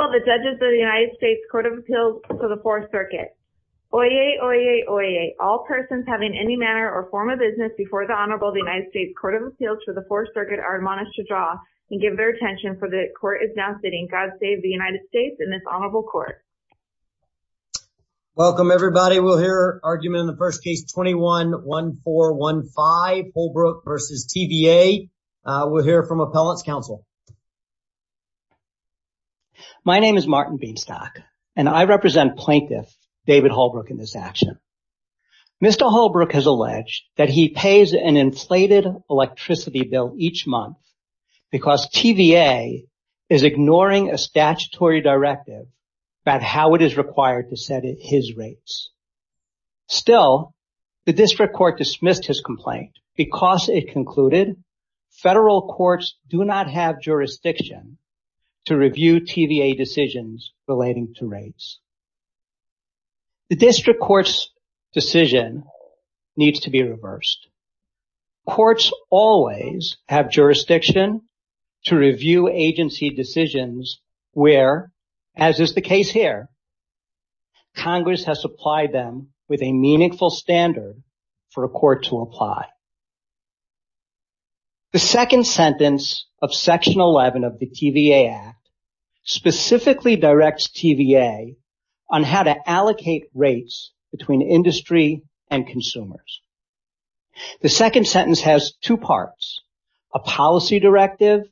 Honorable the Judges of the United States Court of Appeals for the Fourth Circuit. Oyez, oyez, oyez. All persons having any manner or form of business before the Honorable of the United States Court of Appeals for the Fourth Circuit are admonished to draw and give their attention, for the court is now sitting. God save the United States and this Honorable Court. Welcome, everybody. We'll hear argument in the first case, 21-1415 Holbrook v. TVA. We'll hear from Appellants' Counsel. My name is Martin Beanstock and I represent Plaintiff David Holbrook in this action. Mr. Holbrook has alleged that he pays an inflated electricity bill each month because TVA is ignoring a statutory directive about how it is required to set his rates. Still, the district court dismissed his complaint because it concluded federal courts do not have jurisdiction to review TVA decisions relating to rates. The district court's decision needs to be reversed. Courts always have jurisdiction to review agency decisions where, as is the case here, Congress has supplied them with a meaningful standard for a court to apply. The second sentence of Section 11 of the TVA Act specifically directs TVA on how to allocate rates between industry and consumers. The second sentence has two parts, a policy directive,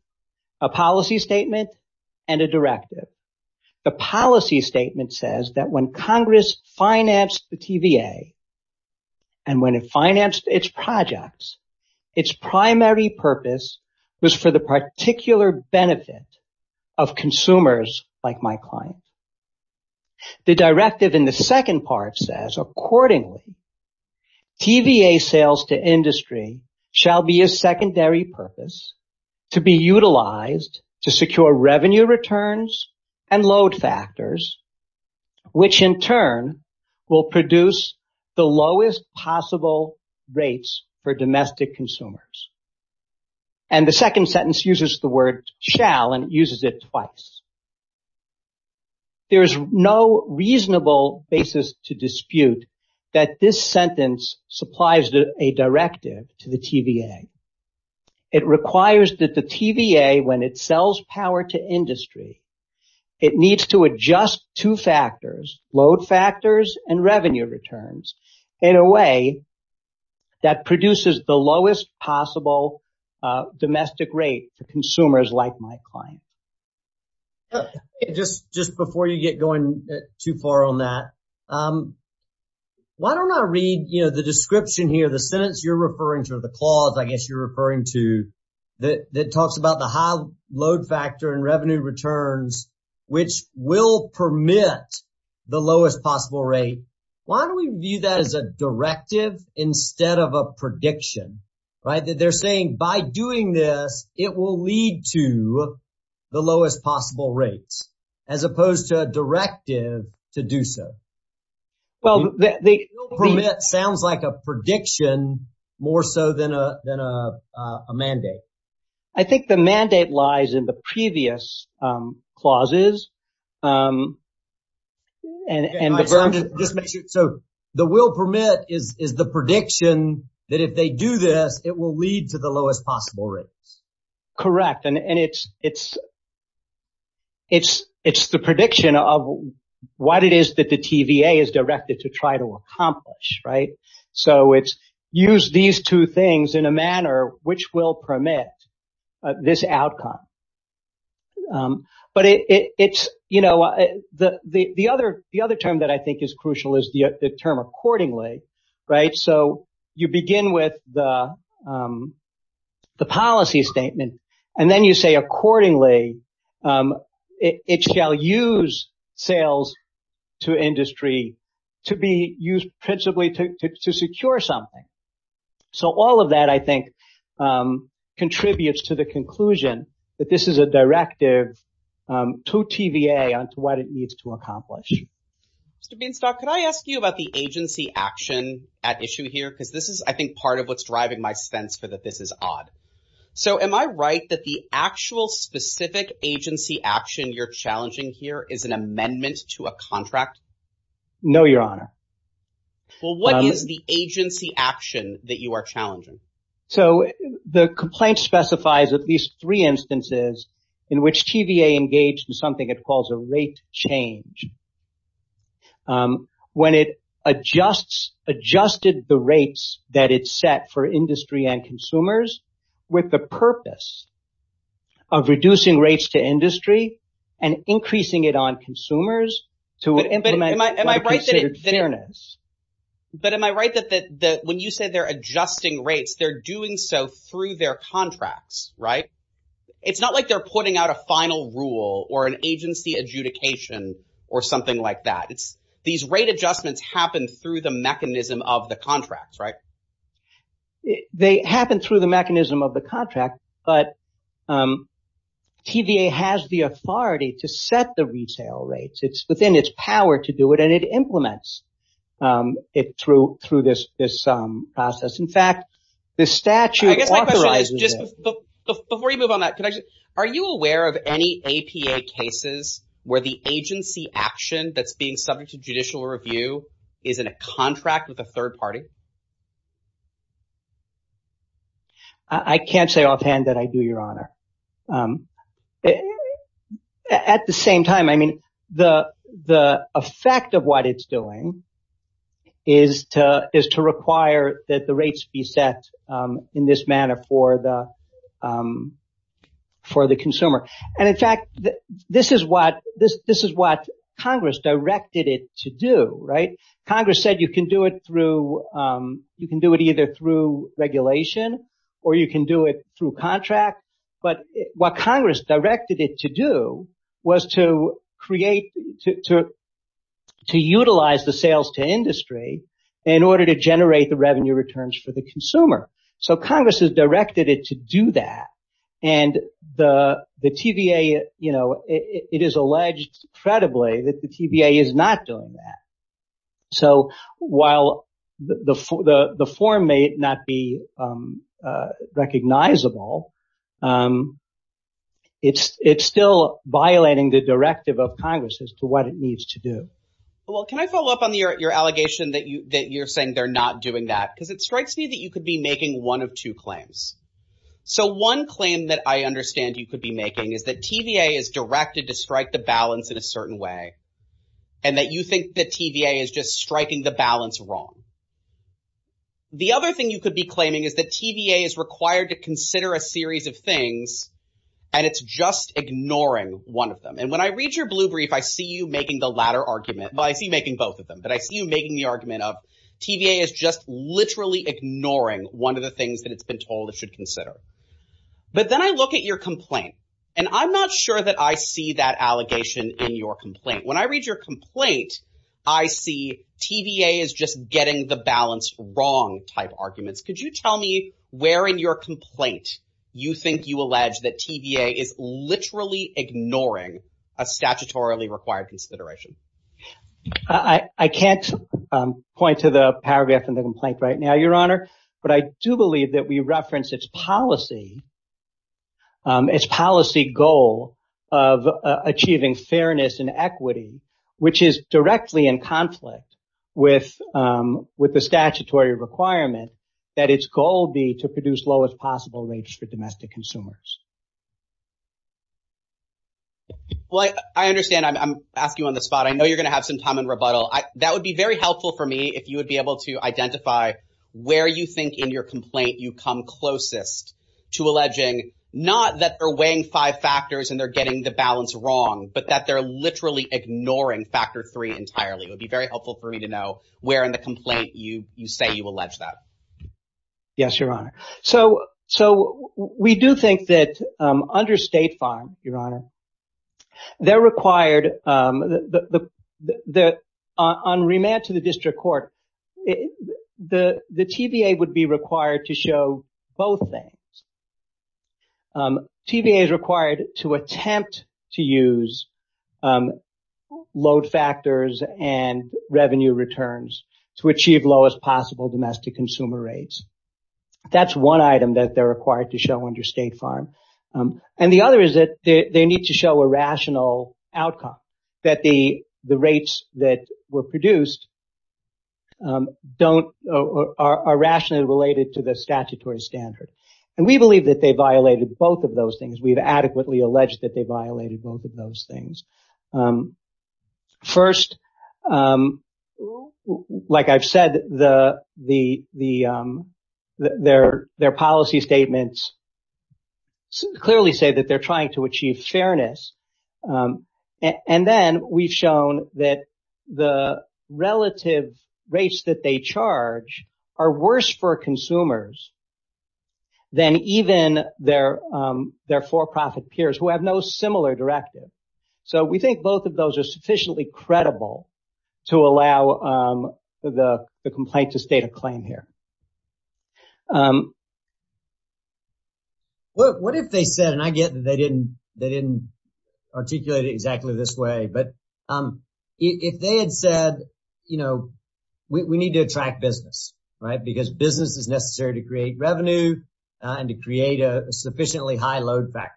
a policy statement, and a directive. The policy statement says that when Congress financed the TVA and when it financed its projects, its primary purpose was for the particular benefit of consumers like my client. The directive in the second part says, accordingly, TVA sales to industry shall be a secondary purpose to be utilized to secure revenue returns and load factors, which in turn will produce the lowest possible rates for domestic consumers. And the second sentence uses the word shall and uses it twice. There is no reasonable basis to dispute that this sentence supplies a directive to the TVA. It requires that the TVA, when it sells power to industry, it needs to adjust two factors, load factors and revenue returns, in a way that produces the lowest possible domestic rate to consumers like my client. Just before you get going too far on that, why don't I read the description here, the sentence you're referring to, the clause I guess you're referring to, that talks about the high load factor and revenue returns, which will permit the lowest possible rate. Why don't we view that as a directive instead of a prediction? They're saying by doing this, it will lead to the lowest possible rates, as opposed to a directive to do so. It sounds like a prediction more so than a mandate. I think the mandate lies in the previous clauses. So the will permit is the prediction that if they do this, it will lead to the lowest possible rates. Correct. And it's the prediction of what it is that the TVA is directed to try to accomplish. So it's use these two things in a manner which will permit this outcome. But it's, you know, the other the other term that I think is crucial is the term accordingly. Right. So you begin with the policy statement and then you say accordingly, it shall use sales to industry to be used principally to secure something. So all of that, I think, contributes to the conclusion that this is a directive to TVA on what it needs to accomplish. Mr. Beanstalk, could I ask you about the agency action at issue here? Because this is, I think, part of what's driving my sense for that this is odd. So am I right that the actual specific agency action you're challenging here is an amendment to a contract? No, your honor. Well, what is the agency action that you are challenging? So the complaint specifies at least three instances in which TVA engaged in something it calls a rate change. When it adjusts adjusted the rates that it set for industry and consumers with the purpose of reducing rates to industry and increasing it on consumers. But am I right that when you say they're adjusting rates, they're doing so through their contracts, right? It's not like they're putting out a final rule or an agency adjudication or something like that. It's these rate adjustments happen through the mechanism of the contracts, right? They happen through the mechanism of the contract, but TVA has the authority to set the retail rates. It's within its power to do it and it implements it through this process. In fact, the statute authorizes it. Before you move on that, are you aware of any APA cases where the agency action that's being subject to judicial review is in a contract with a third party? I can't say offhand that I do, your honor. At the same time, I mean, the effect of what it's doing is to require that the rates be set in this manner for the consumer. And in fact, this is what Congress directed it to do, right? But what Congress directed it to do was to create, to utilize the sales to industry in order to generate the revenue returns for the consumer. So Congress has directed it to do that. And the TVA, it is alleged credibly that the TVA is not doing that. So while the form may not be recognizable, it's still violating the directive of Congress as to what it needs to do. Well, can I follow up on your allegation that you're saying they're not doing that because it strikes me that you could be making one of two claims. So one claim that I understand you could be making is that TVA is directed to strike the balance in a certain way and that you think that TVA is just striking the balance wrong. The other thing you could be claiming is that TVA is required to consider a series of things and it's just ignoring one of them. And when I read your blue brief, I see you making the latter argument. I see making both of them, but I see you making the argument of TVA is just literally ignoring one of the things that it's been told it should consider. But then I look at your complaint and I'm not sure that I see that allegation in your complaint. When I read your complaint, I see TVA is just getting the balance wrong type arguments. Could you tell me where in your complaint you think you allege that TVA is literally ignoring a statutorily required consideration? I can't point to the paragraph in the complaint right now, Your Honor. But I do believe that we reference its policy goal of achieving fairness and equity, which is directly in conflict with the statutory requirement that its goal be to produce lowest possible rates for domestic consumers. Well, I understand. I'm asking you on the spot. I know you're going to have some time in rebuttal. That would be very helpful for me if you would be able to identify where you think in your complaint you come closest to alleging not that they're weighing five factors and they're getting the balance wrong, but that they're literally ignoring factor three entirely. It would be very helpful for me to know where in the complaint you say you allege that. Yes, Your Honor. So we do think that under State Farm, Your Honor, they're required that on remand to the district court, the TVA would be required to show both things. TVA is required to attempt to use load factors and revenue returns to achieve lowest possible domestic consumer rates. That's one item that they're required to show under State Farm. And the other is that they need to show a rational outcome, that the rates that were produced are rationally related to the statutory standard. And we believe that they violated both of those things. We've adequately alleged that they violated both of those things. First, like I've said, their policy statements clearly say that they're trying to achieve fairness. And then we've shown that the relative rates that they charge are worse for consumers than even their for-profit peers who have no similar directive. So we think both of those are sufficiently credible to allow the complaint to state a claim here. What if they said, and I get that they didn't articulate it exactly this way, but if they had said, you know, we need to attract business, right? Because business is necessary to create revenue and to create a sufficiently high load factor.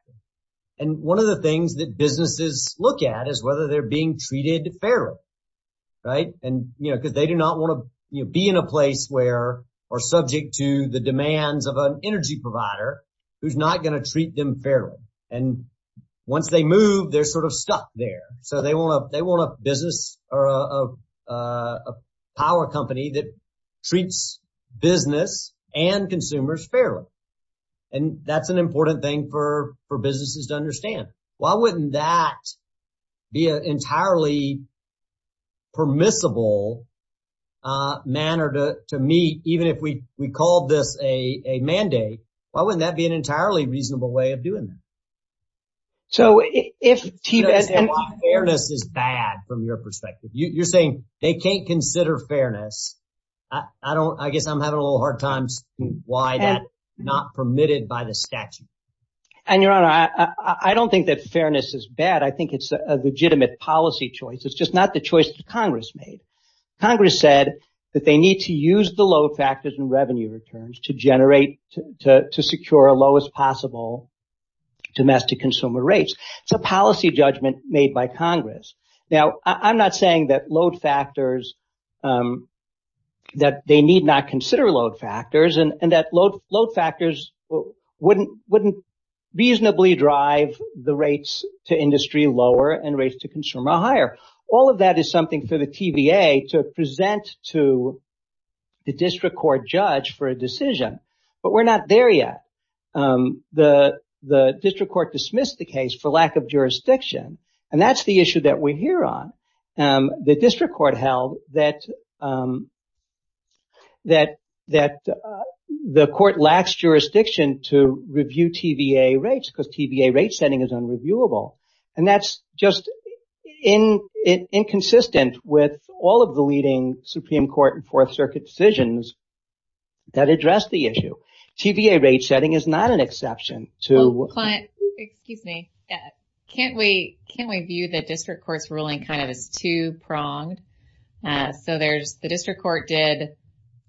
And one of the things that businesses look at is whether they're being treated fairly. Because they do not want to be in a place where, or subject to the demands of an energy provider who's not going to treat them fairly. And once they move, they're sort of stuck there. So they want a business or a power company that treats business and consumers fairly. And that's an important thing for businesses to understand. Why wouldn't that be an entirely permissible manner to meet, even if we called this a mandate? Why wouldn't that be an entirely reasonable way of doing that? So if T-BED and… Fairness is bad from your perspective. You're saying they can't consider fairness. I don't, I guess I'm having a little hard time seeing why that's not permitted by the statute. And your honor, I don't think that fairness is bad. I think it's a legitimate policy choice. It's just not the choice that Congress made. Congress said that they need to use the load factors and revenue returns to generate, to secure a lowest possible domestic consumer rates. It's a policy judgment made by Congress. Now, I'm not saying that load factors, that they need not consider load factors and that load factors wouldn't reasonably drive the rates to industry lower and rates to consumer higher. All of that is something for the TVA to present to the district court judge for a decision. But we're not there yet. The district court dismissed the case for lack of jurisdiction. And that's the issue that we're here on. The district court held that the court lacks jurisdiction to review TVA rates because TVA rate setting is unreviewable. And that's just inconsistent with all of the leading Supreme Court and Fourth Circuit decisions that address the issue. TVA rate setting is not an exception to… Client, excuse me. Can't we view the district court's ruling kind of as two pronged? So there's the district court did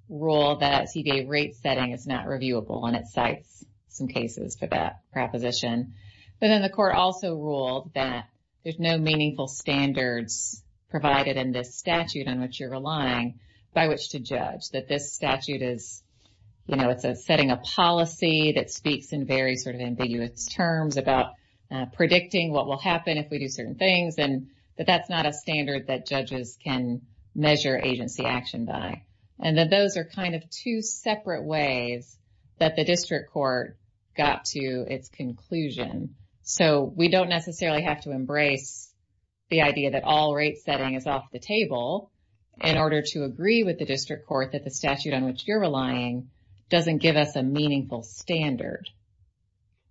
rule that TVA rate setting is not reviewable and it cites some cases for that proposition. But then the court also ruled that there's no meaningful standards provided in this statute on which you're relying by which to judge. That this statute is, you know, it's setting a policy that speaks in very sort of ambiguous terms about predicting what will happen if we do certain things. And that that's not a standard that judges can measure agency action by. And then those are kind of two separate ways that the district court got to its conclusion. So we don't necessarily have to embrace the idea that all rate setting is off the table in order to agree with the district court that the statute on which you're relying doesn't give us a meaningful standard.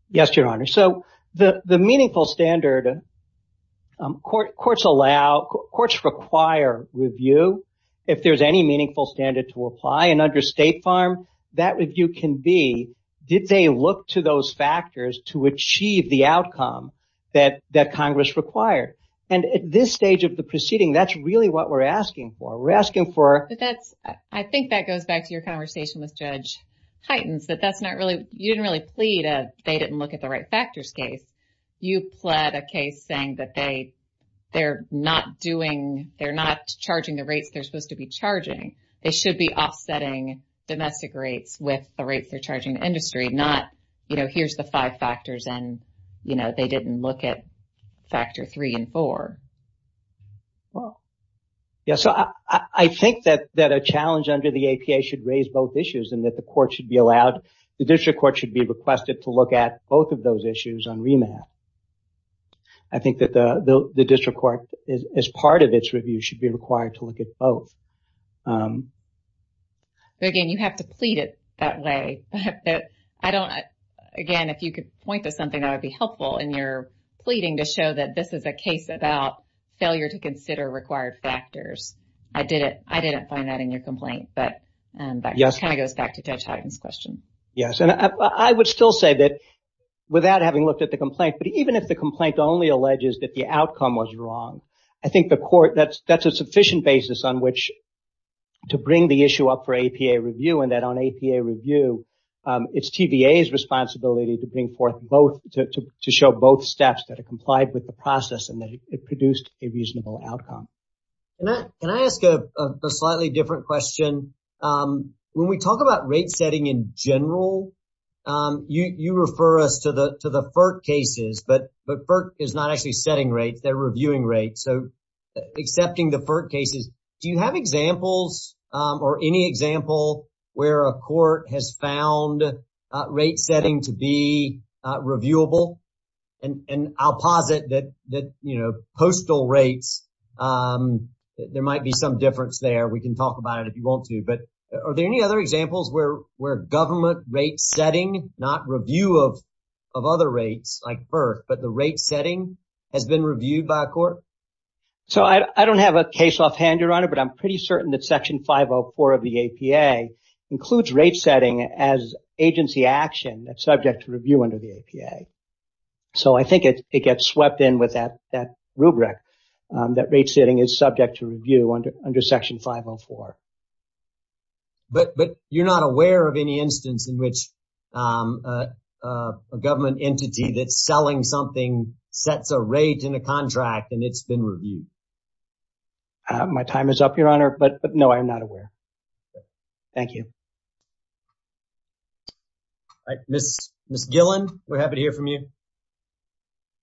Yes, Your Honor. So the meaningful standard courts allow, courts require review if there's any meaningful standard to apply. And under State Farm, that review can be, did they look to those factors to achieve the outcome that Congress required? And at this stage of the proceeding, that's really what we're asking for. We're asking for. But that's, I think that goes back to your conversation with Judge Heitens, that that's not really, you didn't really plead, they didn't look at the right factors case. You pled a case saying that they, they're not doing, they're not charging the rates they're supposed to be charging. They should be offsetting domestic rates with the rates they're charging the industry, not, you know, here's the five factors and, you know, they didn't look at factor three and four. Well, yes, I think that a challenge under the APA should raise both issues and that the court should be allowed, the district court should be requested to look at both of those issues on remand. I think that the district court, as part of its review, should be required to look at both. But again, you have to plead it that way. I don't, again, if you could point to something that would be helpful in your pleading to show that this is a case about failure to consider required factors. I didn't, I didn't find that in your complaint, but that kind of goes back to Judge Heitens' question. Yes, and I would still say that without having looked at the complaint, but even if the complaint only alleges that the outcome was wrong, I think the court, that's, that's a sufficient basis on which to bring the issue up for APA review and that on APA review, it's TVA's responsibility to bring forth both, to show both steps that are complied with the process and that it produced a reasonable outcome. Can I ask a slightly different question? When we talk about rate setting in general, you, you refer us to the, to the FERC cases, but, but FERC is not actually setting rates, they're reviewing rates. So accepting the FERC cases, do you have examples or any example where a court has found rate setting to be reviewable? And, and I'll posit that, that, you know, postal rates, there might be some difference there. We can talk about it if you want to, but are there any other examples where, where government rate setting, not review of, of other rates like FERC, but the rate setting has been reviewed by a court? So I don't have a case offhand, Your Honor, but I'm pretty certain that section 504 of the APA includes rate setting as agency action that's subject to review under the APA. So I think it gets swept in with that, that rubric, that rate setting is subject to review under, under section 504. But, but you're not aware of any instance in which a government entity that's selling something sets a rate in a contract and it's been reviewed. My time is up, Your Honor, but, but no, I'm not aware. Thank you. Ms. Gilland, we're happy to hear from you.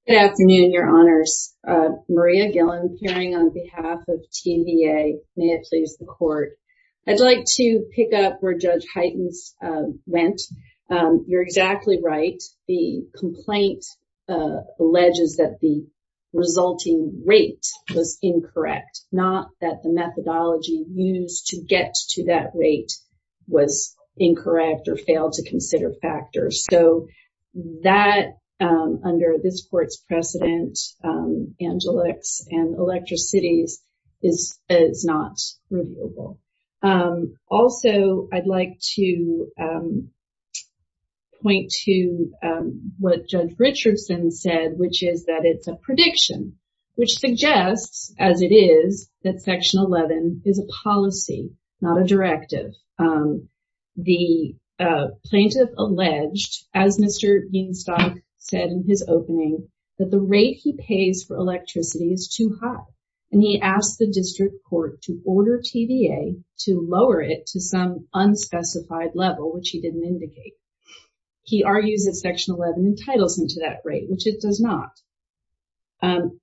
Good afternoon, Your Honors. Maria Gilland hearing on behalf of TVA. May it please the court. I'd like to pick up where Judge Heitens went. You're exactly right. The complaint alleges that the resulting rate was incorrect, not that the methodology used to get to that rate was incorrect or failed to consider factors. So that, under this court's precedent, Angelix and Electricities is, is not reviewable. Also, I'd like to point to what Judge Richardson said, which is that it's a prediction, which suggests, as it is, that section 11 is a policy, not a directive. The plaintiff alleged, as Mr. Beanstalk said in his opening, that the rate he pays for electricity is too high. And he asked the district court to order TVA to lower it to some unspecified level, which he didn't indicate. He argues that section 11 entitles him to that rate, which it does not.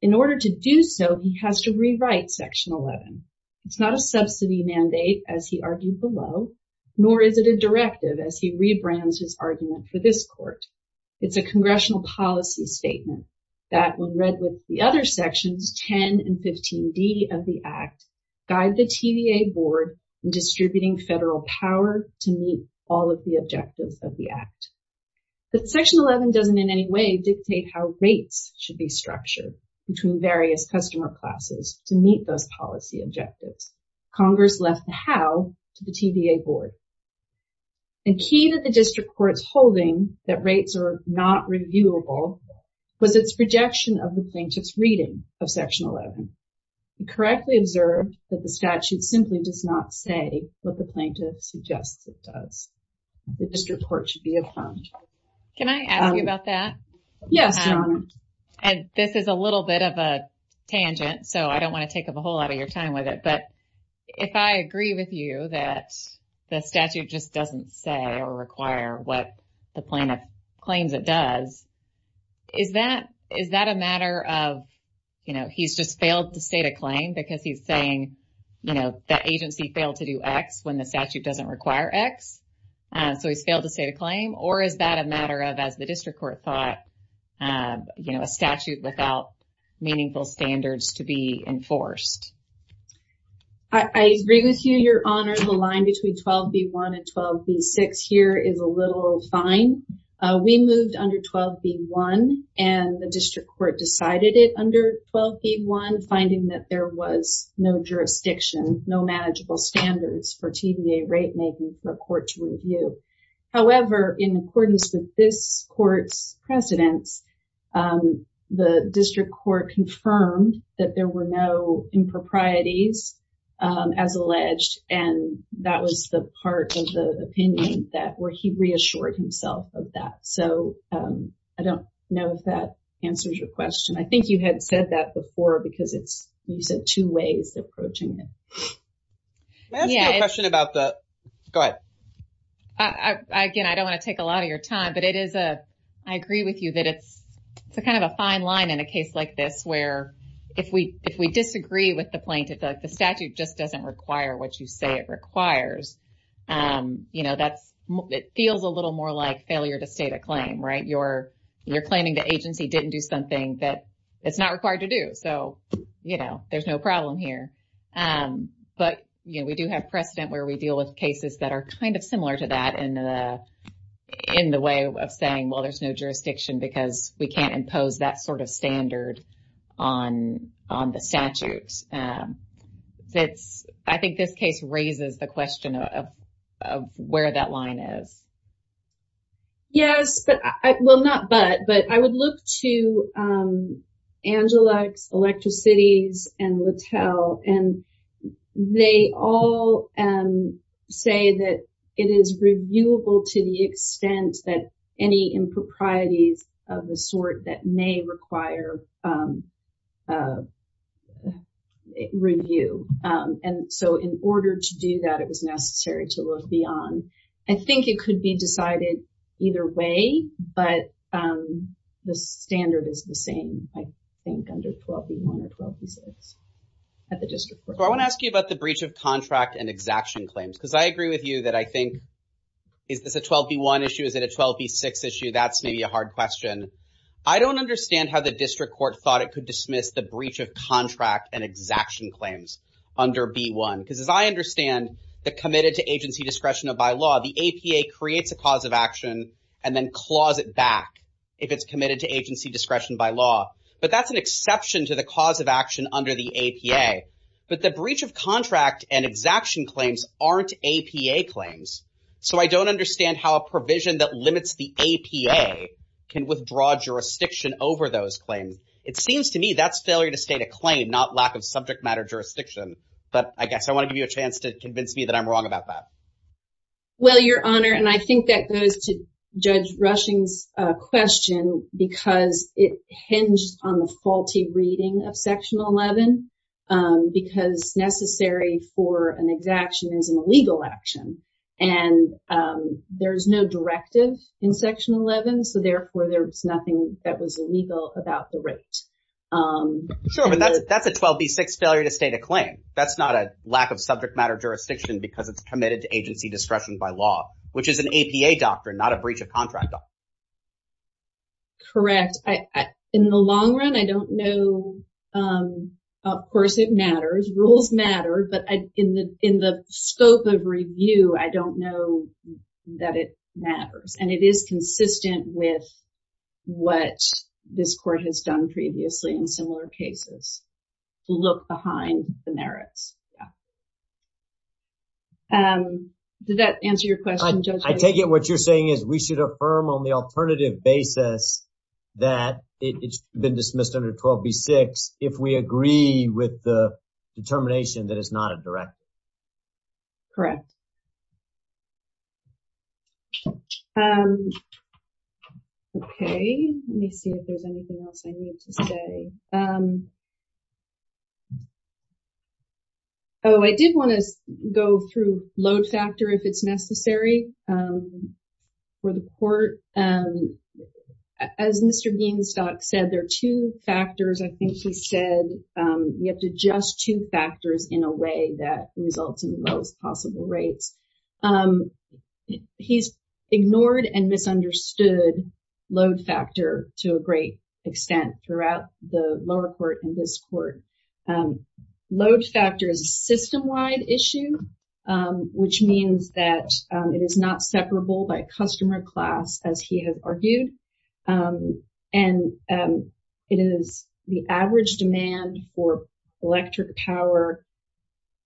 In order to do so, he has to rewrite section 11. It's not a subsidy mandate, as he argued below, nor is it a directive, as he rebrands his argument for this court. It's a congressional policy statement that, when read with the other sections, 10 and 15D of the Act, guide the TVA board in distributing federal power to meet all of the objectives of the Act. But section 11 doesn't in any way dictate how rates should be structured between various customer classes to meet those policy objectives. Congress left the how to the TVA board. The key that the district court's holding, that rates are not reviewable, was its rejection of the plaintiff's reading of section 11. It correctly observed that the statute simply does not say what the plaintiff suggests it does. The district court should be affirmed. Can I ask you about that? Yes, John. And this is a little bit of a tangent, so I don't want to take up a whole lot of your time with it. But if I agree with you that the statute just doesn't say or require what the plaintiff claims it does, is that a matter of, you know, he's just failed to state a claim because he's saying, you know, the agency failed to do X when the statute doesn't require X? So he's failed to state a claim? Or is that a matter of, as the district court thought, you know, a statute without meaningful standards to be enforced? I agree with you, Your Honor. The line between 12B1 and 12B6 here is a little fine. We moved under 12B1, and the district court decided it under 12B1, finding that there was no jurisdiction, no manageable standards for TVA rate making for the court to review. However, in accordance with this court's precedents, the district court confirmed that there were no improprieties as alleged, and that was the part of the opinion that where he reassured himself of that. So I don't know if that answers your question. I think you had said that before because it's, you said, two ways of approaching it. Can I ask you a question about the, go ahead. Again, I don't want to take a lot of your time, but it is a, I agree with you that it's a kind of a fine line in a case like this where if we disagree with the plaintiff, the statute just doesn't require what you say it requires. You know, that's, it feels a little more like failure to state a claim, right? You're claiming the agency didn't do something that it's not required to do. So, you know, there's no problem here. But, you know, we do have precedent where we deal with cases that are kind of similar to that in the way of saying, well, there's no jurisdiction because we can't impose that sort of standard on the statutes. I think this case raises the question of where that line is. Yes, but, well, not but, but I would look to Angelix, Electricities, and Littel, and they all say that it is reviewable to the extent that any improprieties of the sort that may require review. And so in order to do that, it was necessary to look beyond. I think it could be decided either way. But the standard is the same, I think, under 12B1 or 12B6 at the district court. So I want to ask you about the breach of contract and exaction claims because I agree with you that I think, is this a 12B1 issue? Is it a 12B6 issue? That's maybe a hard question. I don't understand how the district court thought it could dismiss the breach of contract and exaction claims under B1. Because as I understand, the committed to agency discretion by law, the APA creates a cause of action and then claws it back if it's committed to agency discretion by law. But that's an exception to the cause of action under the APA. But the breach of contract and exaction claims aren't APA claims. So I don't understand how a provision that limits the APA can withdraw jurisdiction over those claims. It seems to me that's failure to state a claim, not lack of subject matter jurisdiction. But I guess I want to give you a chance to convince me that I'm wrong about that. Well, Your Honor, and I think that goes to Judge Rushing's question because it hinged on the faulty reading of Section 11. Because necessary for an exaction is an illegal action. And there is no directive in Section 11. So therefore, there was nothing that was illegal about the right. Sure, but that's a 12B6 failure to state a claim. That's not a lack of subject matter jurisdiction because it's committed to agency discretion by law, which is an APA doctrine, not a breach of contract. Correct. In the long run, I don't know. Of course, it matters. Rules matter. But in the scope of review, I don't know that it matters. And it is consistent with what this court has done previously in similar cases to look behind the merits. Did that answer your question, Judge? I take it what you're saying is we should affirm on the alternative basis that it's been dismissed under 12B6 if we agree with the determination that it's not a directive. Correct. Okay. Let me see if there's anything else I need to say. Oh, I did want to go through load factor if it's necessary for the court. As Mr. Geenstock said, there are two factors. I think he said we have to adjust two factors in a way that results in the lowest possible rates. He's ignored and misunderstood load factor to a great extent throughout the lower court in this court. Load factor is a system wide issue, which means that it is not separable by customer class, as he has argued. And it is the average demand for electric power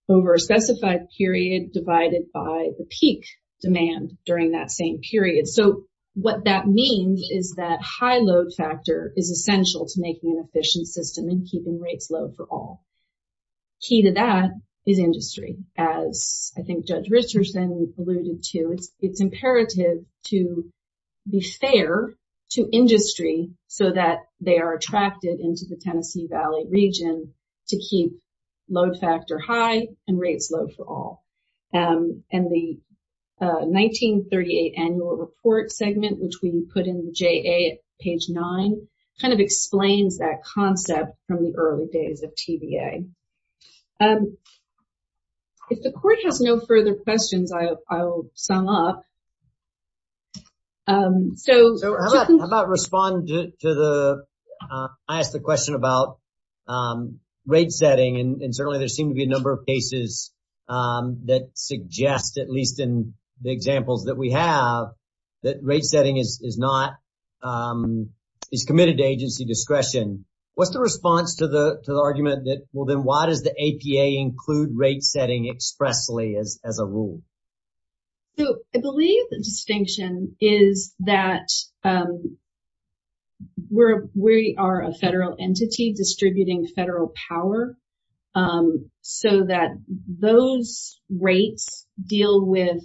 over a specified period divided by the peak demand during that same period. So what that means is that high load factor is essential to making an efficient system and keeping rates low for all. Key to that is industry. As I think Judge Richardson alluded to, it's imperative to be fair to industry so that they are attracted into the Tennessee Valley region to keep load factor high and rates low for all. And the 1938 annual report segment, which we put in the JA at page nine, kind of explains that concept from the early days of TBA. If the court has no further questions, I will sum up. So how about respond to the I asked the question about rate setting. And certainly there seem to be a number of cases that suggest, at least in the examples that we have, that rate setting is not is committed to agency discretion. What's the response to the argument that, well, then why does the APA include rate setting expressly as a rule? So I believe the distinction is that. We're we are a federal entity distributing federal power so that those rates deal with.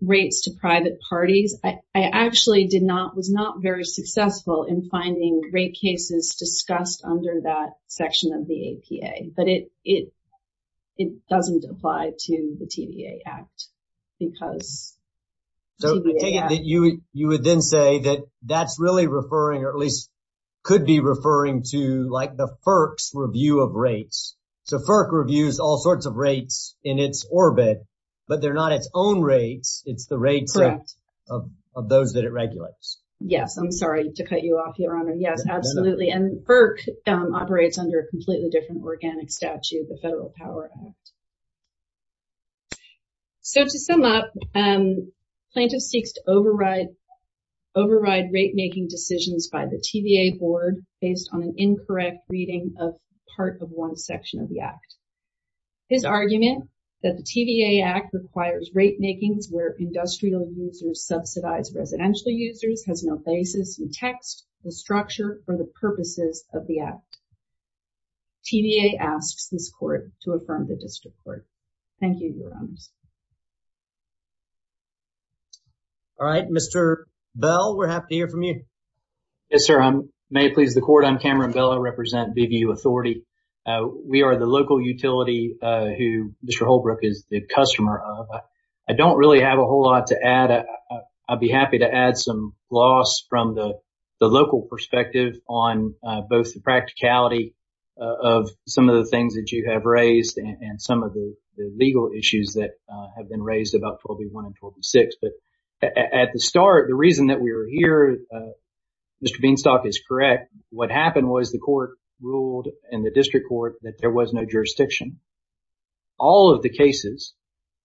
Rates to private parties, I actually did not was not very successful in finding great cases discussed under that section of the APA, but it it it doesn't apply to the TV act because. So you would then say that that's really referring or at least could be referring to like the first review of rates. So reviews all sorts of rates in its orbit, but they're not its own rates. It's the rates of those that it regulates. Yes, I'm sorry to cut you off. Your honor. Yes, absolutely. And operates under a completely different organic statute. The federal power. So, to sum up plaintiff seeks to override. Override rate making decisions by the TVA board based on an incorrect reading of part of one section of the act. His argument that the TVA act requires rate makings where industrial users subsidize residential users has no basis in text, the structure for the purposes of the act. TVA asks this court to affirm the district court. Thank you. All right. Mr bell. We're happy to hear from you. Yes, sir. I'm may please the court. I'm Cameron. Bella represent the view authority. We are the local utility who Mr Holbrook is the customer of. I don't really have a whole lot to add. I'd be happy to add some loss from the local perspective on both the practicality of some of the things that you have raised and some of the legal issues that have been raised about probably 126. But at the start, the reason that we were here. Mr Beanstalk is correct. What happened was the court ruled in the district court that there was no jurisdiction. All of the cases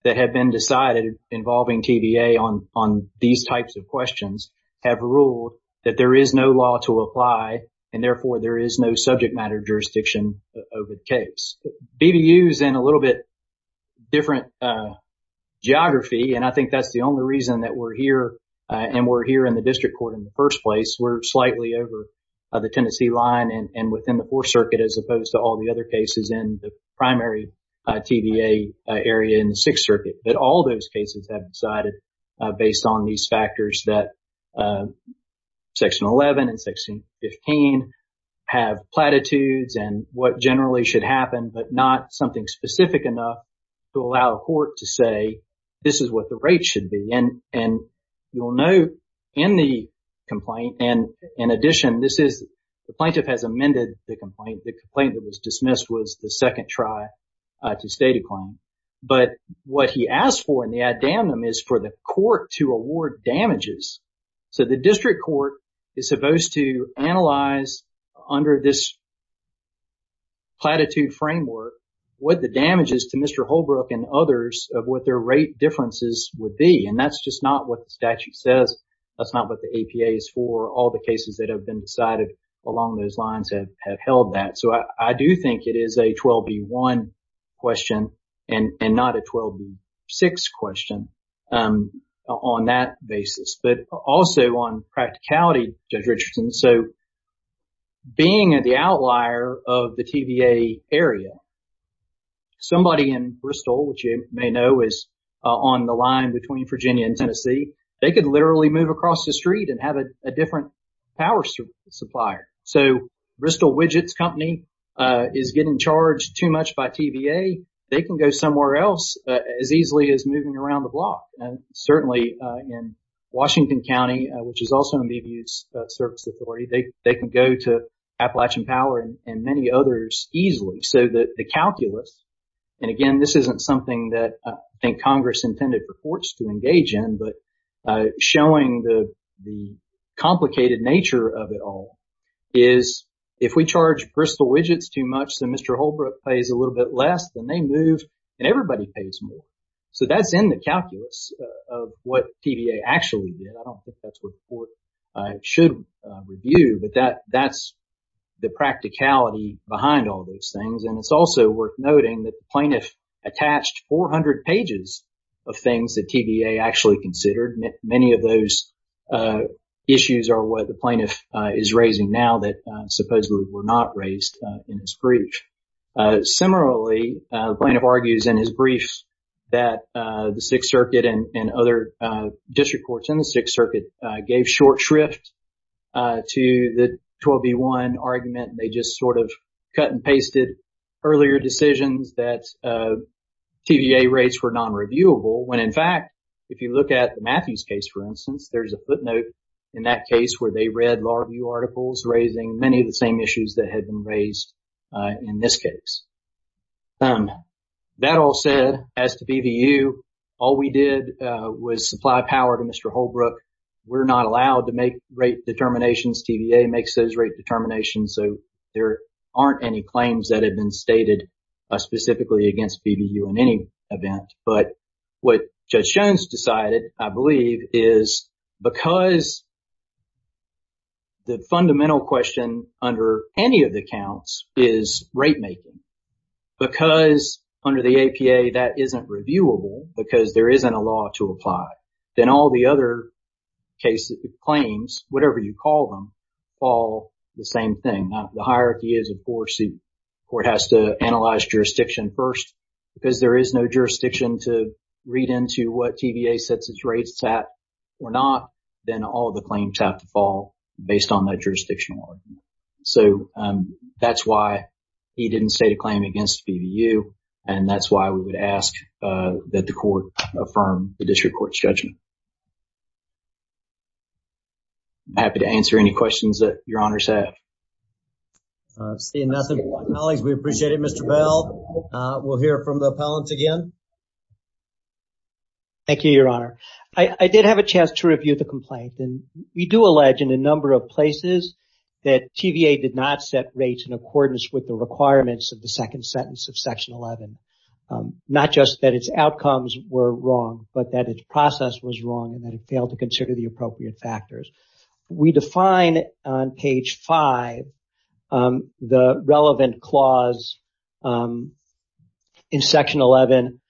that have been decided involving TVA on on these types of questions have ruled that there is no law to apply. And therefore, there is no subject matter jurisdiction over the case. And a little bit different geography. And I think that's the only reason that we're here and we're here in the district court in the first place. We're slightly over the Tennessee line and within the 4th Circuit, as opposed to all the other cases in the primary TVA area in the 6th Circuit. But all those cases have decided based on these factors that Section 11 and Section 15 have platitudes and what generally should happen, but not something specific enough to allow a court to say this is what the rate should be. And you'll know in the complaint. And in addition, this is the plaintiff has amended the complaint. The complaint that was dismissed was the second try to state a claim. But what he asked for in the addendum is for the court to award damages. So the district court is supposed to analyze under this platitude framework what the damages to Mr. Holbrook and others of what their rate differences would be. And that's just not what the statute says. That's not what the APA is for. All the cases that have been decided along those lines have held that. So I do think it is a 12B1 question and not a 12B6 question on that basis, but also on practicality, Judge Richardson. So being at the outlier of the TVA area. Somebody in Bristol, which you may know, is on the line between Virginia and Tennessee. They could literally move across the street and have a different power supply. So Bristol Widgets Company is getting charged too much by TVA. They can go somewhere else as easily as moving around the block. And certainly in Washington County, which is also in the service authority, they can go to Appalachian Power and many others easily so that the calculus. And again, this isn't something that I think Congress intended for courts to engage in. But showing the the complicated nature of it all is if we charge Bristol Widgets too much, then Mr. Holbrook pays a little bit less than they move and everybody pays more. So that's in the calculus of what TVA actually did. I don't think that's what the court should review. But that that's the practicality behind all those things. And it's also worth noting that the plaintiff attached 400 pages of things that TVA actually considered. Many of those issues are what the plaintiff is raising now that supposedly were not raised in his brief. Similarly, the plaintiff argues in his brief that the Sixth Circuit and other district courts in the Sixth Circuit gave short shrift to the 12v1 argument. They just sort of cut and pasted earlier decisions that TVA rates were non-reviewable. When in fact, if you look at the Matthews case, for instance, there is a footnote in that case where they read law review articles raising many of the same issues that had been raised in this case. That all said, as to BVU, all we did was supply power to Mr. Holbrook. We're not allowed to make rate determinations. TVA makes those rate determinations. So there aren't any claims that have been stated specifically against BVU in any event. But what Judge Jones decided, I believe, is because. The fundamental question under any of the counts is rate making because under the APA, that isn't reviewable because there isn't a law to apply. Then all the other cases, claims, whatever you call them, all the same thing. The hierarchy is, of course, the court has to analyze jurisdiction first because there is no jurisdiction to read into what TVA sets its rates at or not. Then all the claims have to fall based on that jurisdiction. So that's why he didn't state a claim against BVU. And that's why we would ask that the court affirm the district court's judgment. Happy to answer any questions that your honors have. Seeing nothing. We appreciate it, Mr. Bell. We'll hear from the appellant again. Thank you, Your Honor. I did have a chance to review the complaint. And we do allege in a number of places that TVA did not set rates in accordance with the requirements of the second sentence of Section 11. Not just that its outcomes were wrong, but that its process was wrong and that it failed to consider the appropriate factors. We define on page five the relevant clause in Section 11.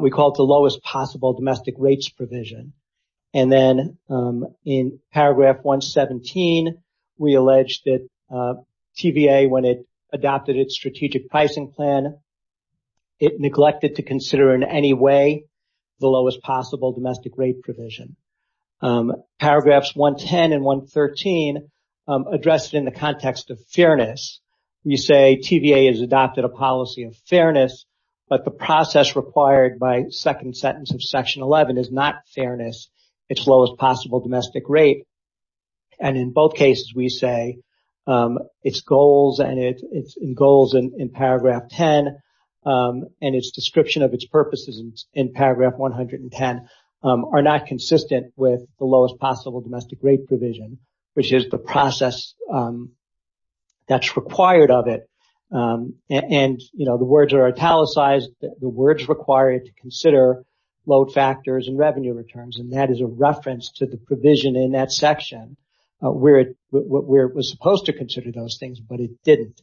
We call it the lowest possible domestic rates provision. And then in paragraph 117, we allege that TVA, when it adopted its strategic pricing plan, it neglected to consider in any way the lowest possible domestic rate provision. Paragraphs 110 and 113 addressed in the context of fairness. We say TVA has adopted a policy of fairness, but the process required by second sentence of Section 11 is not fairness. It's lowest possible domestic rate. And in both cases, we say its goals and its goals in paragraph 10 and its description of its purposes in paragraph 110 are not consistent with the lowest possible domestic rate provision, which is the process that's required of it. And, you know, the words are italicized. The words required to consider load factors and revenue returns. And that is a reference to the provision in that section where it was supposed to consider those things, but it didn't.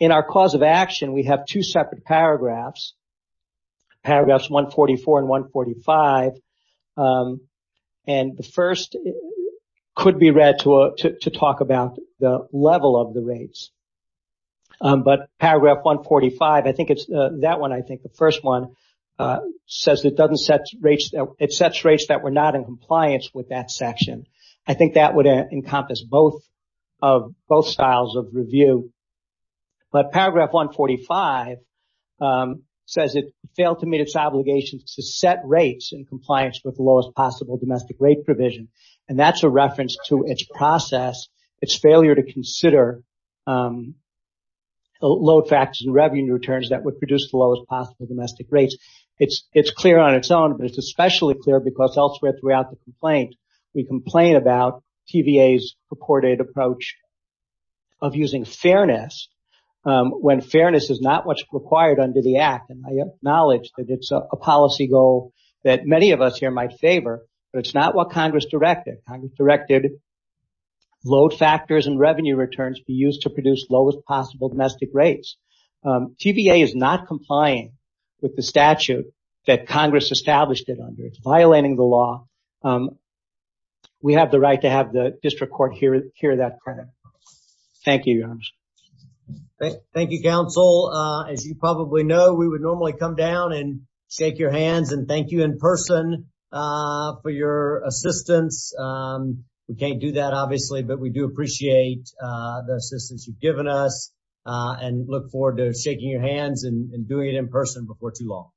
In our cause of action, we have two separate paragraphs, paragraphs 144 and 145. And the first could be read to talk about the level of the rates. But paragraph 145, I think it's that one. I think the first one says it doesn't set rates. It sets rates that were not in compliance with that section. I think that would encompass both of both styles of review. But paragraph 145 says it failed to meet its obligations to set rates in compliance with the lowest possible domestic rate provision. And that's a reference to its process. It's failure to consider the load factors and revenue returns that would produce the lowest possible domestic rates. It's clear on its own, but it's especially clear because elsewhere throughout the complaint, we complain about TVA's purported approach of using fairness when fairness is not what's required under the act. And I acknowledge that it's a policy goal that many of us here might favor, but it's not what Congress directed. Congress directed load factors and revenue returns be used to produce lowest possible domestic rates. TVA is not complying with the statute that Congress established it under. It's violating the law. We have the right to have the district court hear that. Thank you. Thank you, counsel. As you probably know, we would normally come down and shake your hands and thank you in person for your assistance. We can't do that, obviously, but we do appreciate the assistance you've given us and look forward to shaking your hands and doing it in person before too long.